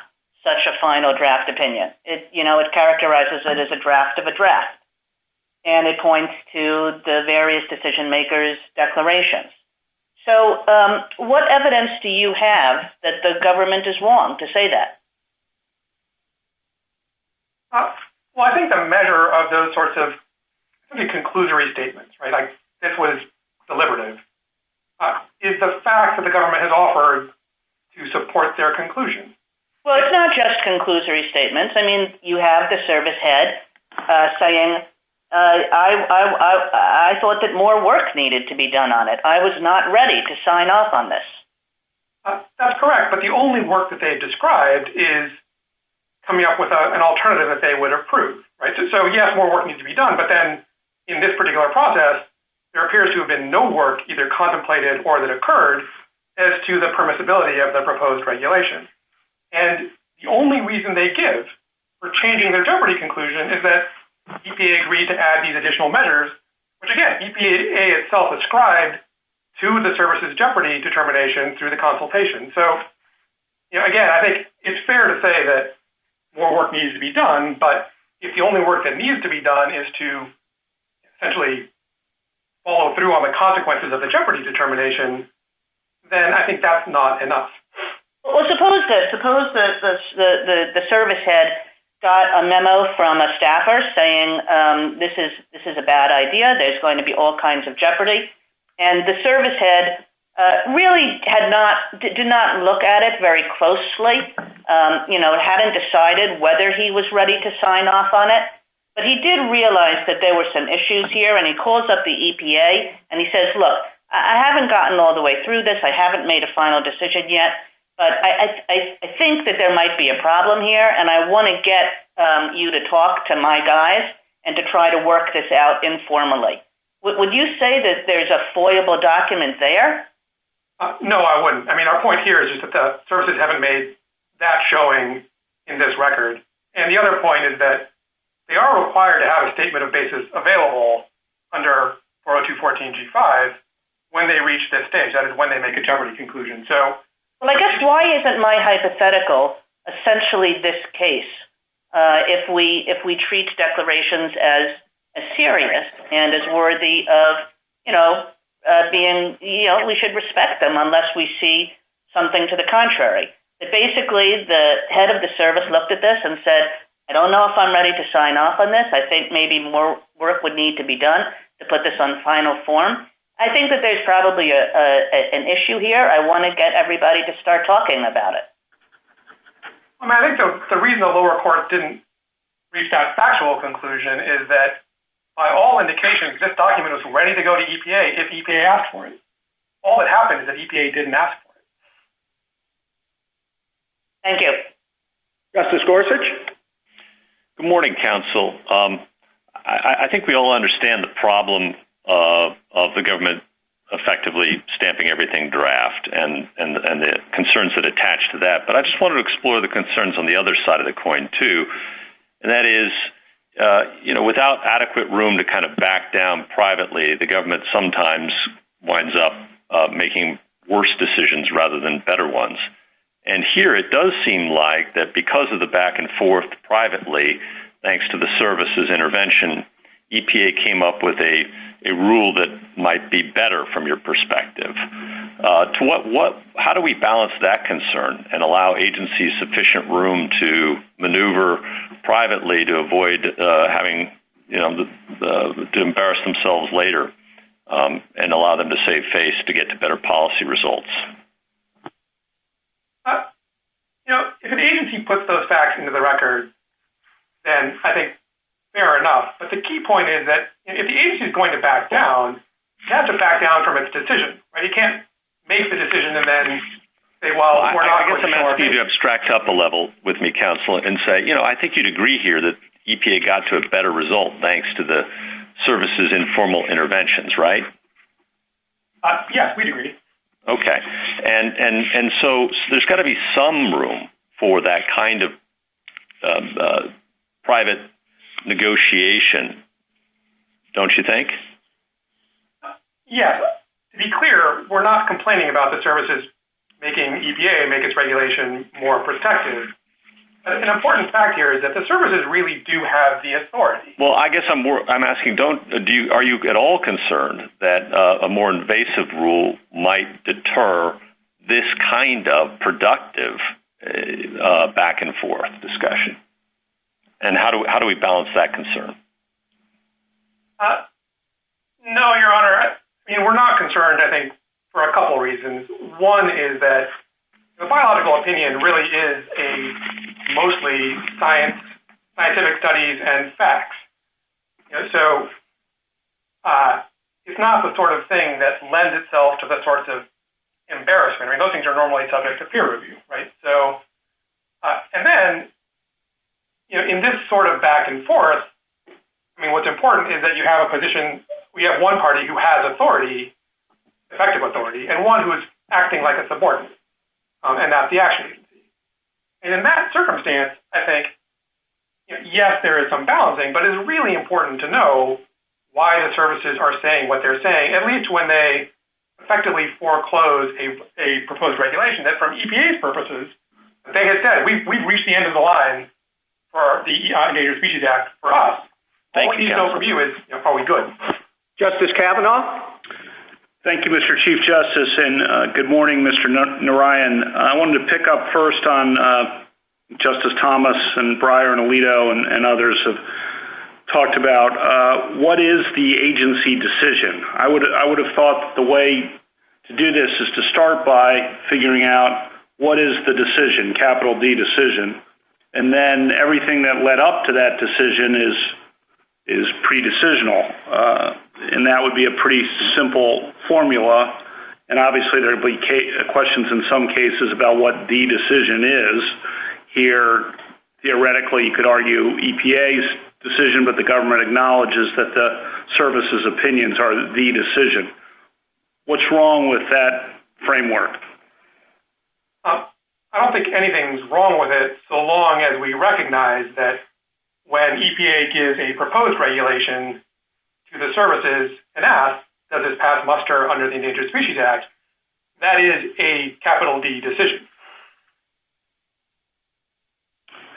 such a final draft opinion. It characterizes it as a draft of a draft and it points to the various decision makers' declarations. So what evidence do you have that the government is wrong to say that? Well, I think the measure of those sorts of conclusory statements like this was deliberative is the fact that the government has offered to support their conclusion. Well, it's not just conclusory statements. I mean, you have the service head saying I thought that more work needed to be done on it. I was not ready to sign off on this. That's correct. But the only work that they've described is coming up with an alternative that they would approve. So yes, more work needs to be done. But then in this particular process there appears to have been no work either contemplated or that occurred as to the permissibility of the proposed regulation. And the only reason they give for changing their jeopardy conclusion is that EPA agreed to add these additional measures which again EPA itself ascribed to the service's determination through the consultation. So, again, I think it's fair to say that more work needs to be done. But if the only work that needs to be done is to essentially follow through on the consequences of the jeopardy determination then I think that's not enough. Well, suppose that the service head got a memo from a staffer saying this is a bad idea. There's going to be all kinds of jeopardy. And the service head really did not look at it very closely. You know, hadn't decided whether he was ready to sign off on it. But he did realize that there were some issues here and he calls up the EPA and he says, look, I haven't gotten all the way through this. I haven't made a final decision yet. But I think that there might be a problem here and I want to get you to talk to my guys and to try to work this out informally. Would you say that there's a foyable document there? No, I wouldn't. I mean, our point here is that the services haven't made that showing in this record. And the other point is that they are required to have a statement of basis available under R02-14-G5 when they reach this stage. That is when they make a jeopardy conclusion. Well, I guess why isn't my hypothetical essentially this case if we treat declarations as serious and as worthy of, you know, being, you know, we should respect them unless we see something to the contrary. Basically, the head of the service looked at this and said, I don't know if I'm ready to sign off on this. I think maybe more work would need to be done to put this on final form. I think that there's probably an issue here. I want to get everybody to start talking about it. I mean, I don't know if I'm ready to go to EPA if EPA asked for it. All that happened is that EPA didn't ask for it. Thank you. Justice Gorsuch? Good morning, counsel. I think we all understand the problem of the government effectively stamping everything draft and the concerns that attach to that. I just wanted to explore the concerns on the other side of the issue. I think when you back down privately, the government sometimes winds up making worse decisions rather than better ones. Here, it does seem like because of the back and forth privately, EPA came up with a rule that might be better from your perspective. How do we balance that concern and allow agency sufficient room to maneuver privately to avoid having to embarrass themselves later and allow them to save face to get to better policy results? If the agency puts those facts into the record, I think fair enough. The key point is if the agency is going to back down, it has to back down from its decision. You can't make the decision and say, well, we're not going to ignore it. I think you would agree that EPA got to a better result thanks to the services and formal interventions, right? Yes, we agree. There has to be some room for that kind of private negotiation, don't you think? Yes. To be clear, we're not complaining about the services making EPA more protective. The services really do have the authority. I'm asking, are you at all concerned that a more productive back and forth discretion? How do we balance that concern? No, your honor. We're not concerned for a couple of reasons. One is that the biological opinion is mostly scientific studies and facts. So it's not the sort of thing that lends itself to the embarrassment. Those things are normally subject to peer review. And then in this sort of back and forth, what's important is you have one party who has authority and one who is acting like a supportant. In that circumstance, yes, there is some balancing, but it's important to that we effectively foreclose a proposed regulation. From EPA's purposes, we've reached the end of the line for us. All I need from you is probably good. Justice Kavanaugh? Thank you, Mr. Chief Justice. Good morning, Mr. Narayan. I wanted to pick up first on Justice Thomas and the way to do this is to start by figuring out what is the decision, capital D decision, and then everything that led up to that decision is pre-decisional. That would be a pretty simple formula, and obviously there would be questions in some cases about what the decision is. Here, theoretically, you could argue EPA's decision, but the government acknowledges that the services' opinions are the decision. What's wrong with that framework? I don't think anything is wrong with it, so long as we recognize that when EPA gives a proposed regulation to the services and asks does it pass muster under the FOIA framework.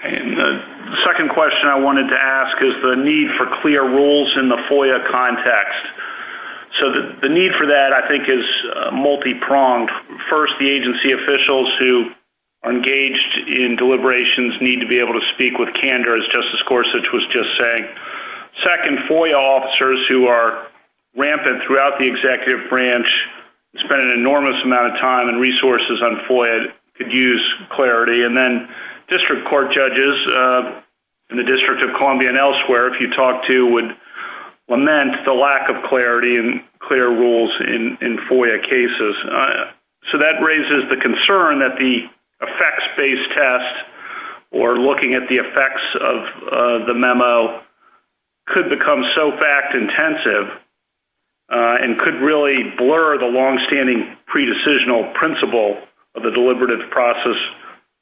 The second question I wanted to ask is the need for clear rules in the FOIA context. The need for that is multi-pronged. First, the agency officials who engaged in deliberations need to be able to speak with candor. Second, FOIA officers who are rampant in the executive branch and resources on FOIA could use clarity. District court judges in the District of Columbia and elsewhere would lament the lack of clarity and clear rules in FOIA cases. That raises the concern that the effects-based tests or looking at the effects of the test and could blur the long-standing principle of the deliberative process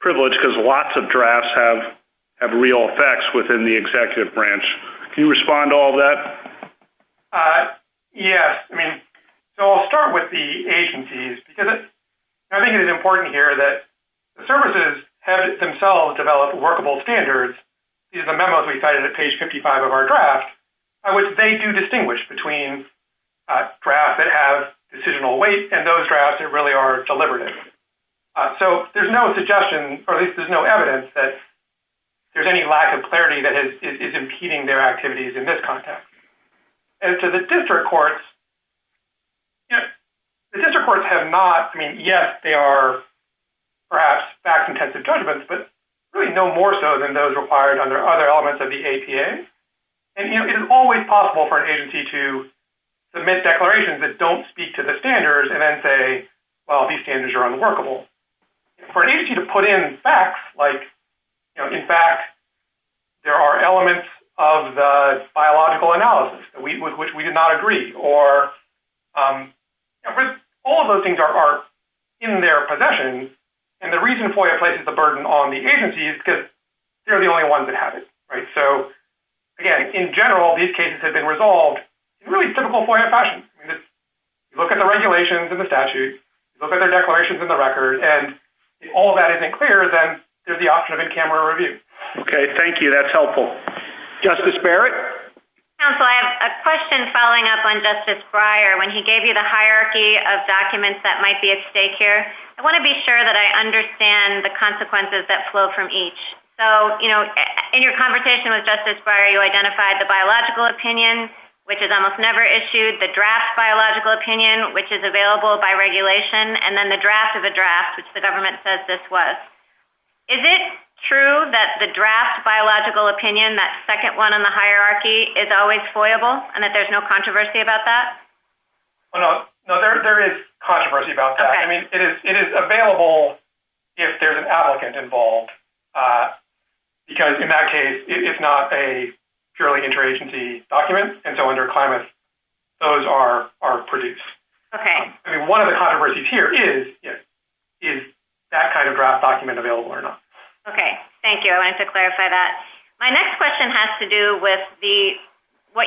privilege. Lots of drafts have real effects within the executive branch. Can you respond to that? I'll start with the agencies. It's important here that the services have developed workable standards and they do distinguish between drafts that have decisional weight and those that are deliberative. There is no evidence that there is any lack of clarity that is impeding their activities. The district courts have not- yes, they are perhaps more than those required under other elements of the APA. It is always possible for an agency to submit declarations that don't speak to the standards and say these standards are unworkable. For an agency to put in facts like there are elements of the biological analysis that we did not agree or all of those things are in their possession and the reason FOIA places the burden on the agency is because they are the only ones that have it. In general, these cases have been resolved in typical FOIA fashion. Look at the regulations and statutes and if all of that is not clear, there is the option of in camera review. Thank you. That is helpful. Justice Barrett? I have a question following up on Justice Breyer. I want to be sure I understand the consequences that flow from each. In your conversation with Justice Breyer, you identified the biological opinion which is available by regulation and the draft of the draft. Is it true that the draft biological opinion is always FOIAble and there is no controversy about that? There is controversy about that. It is available if there is an applicant involved. It is not a purely interagency document. Those are produced. One of the controversies here is is that kind of document available or not? Thank you. My next question has to do with what you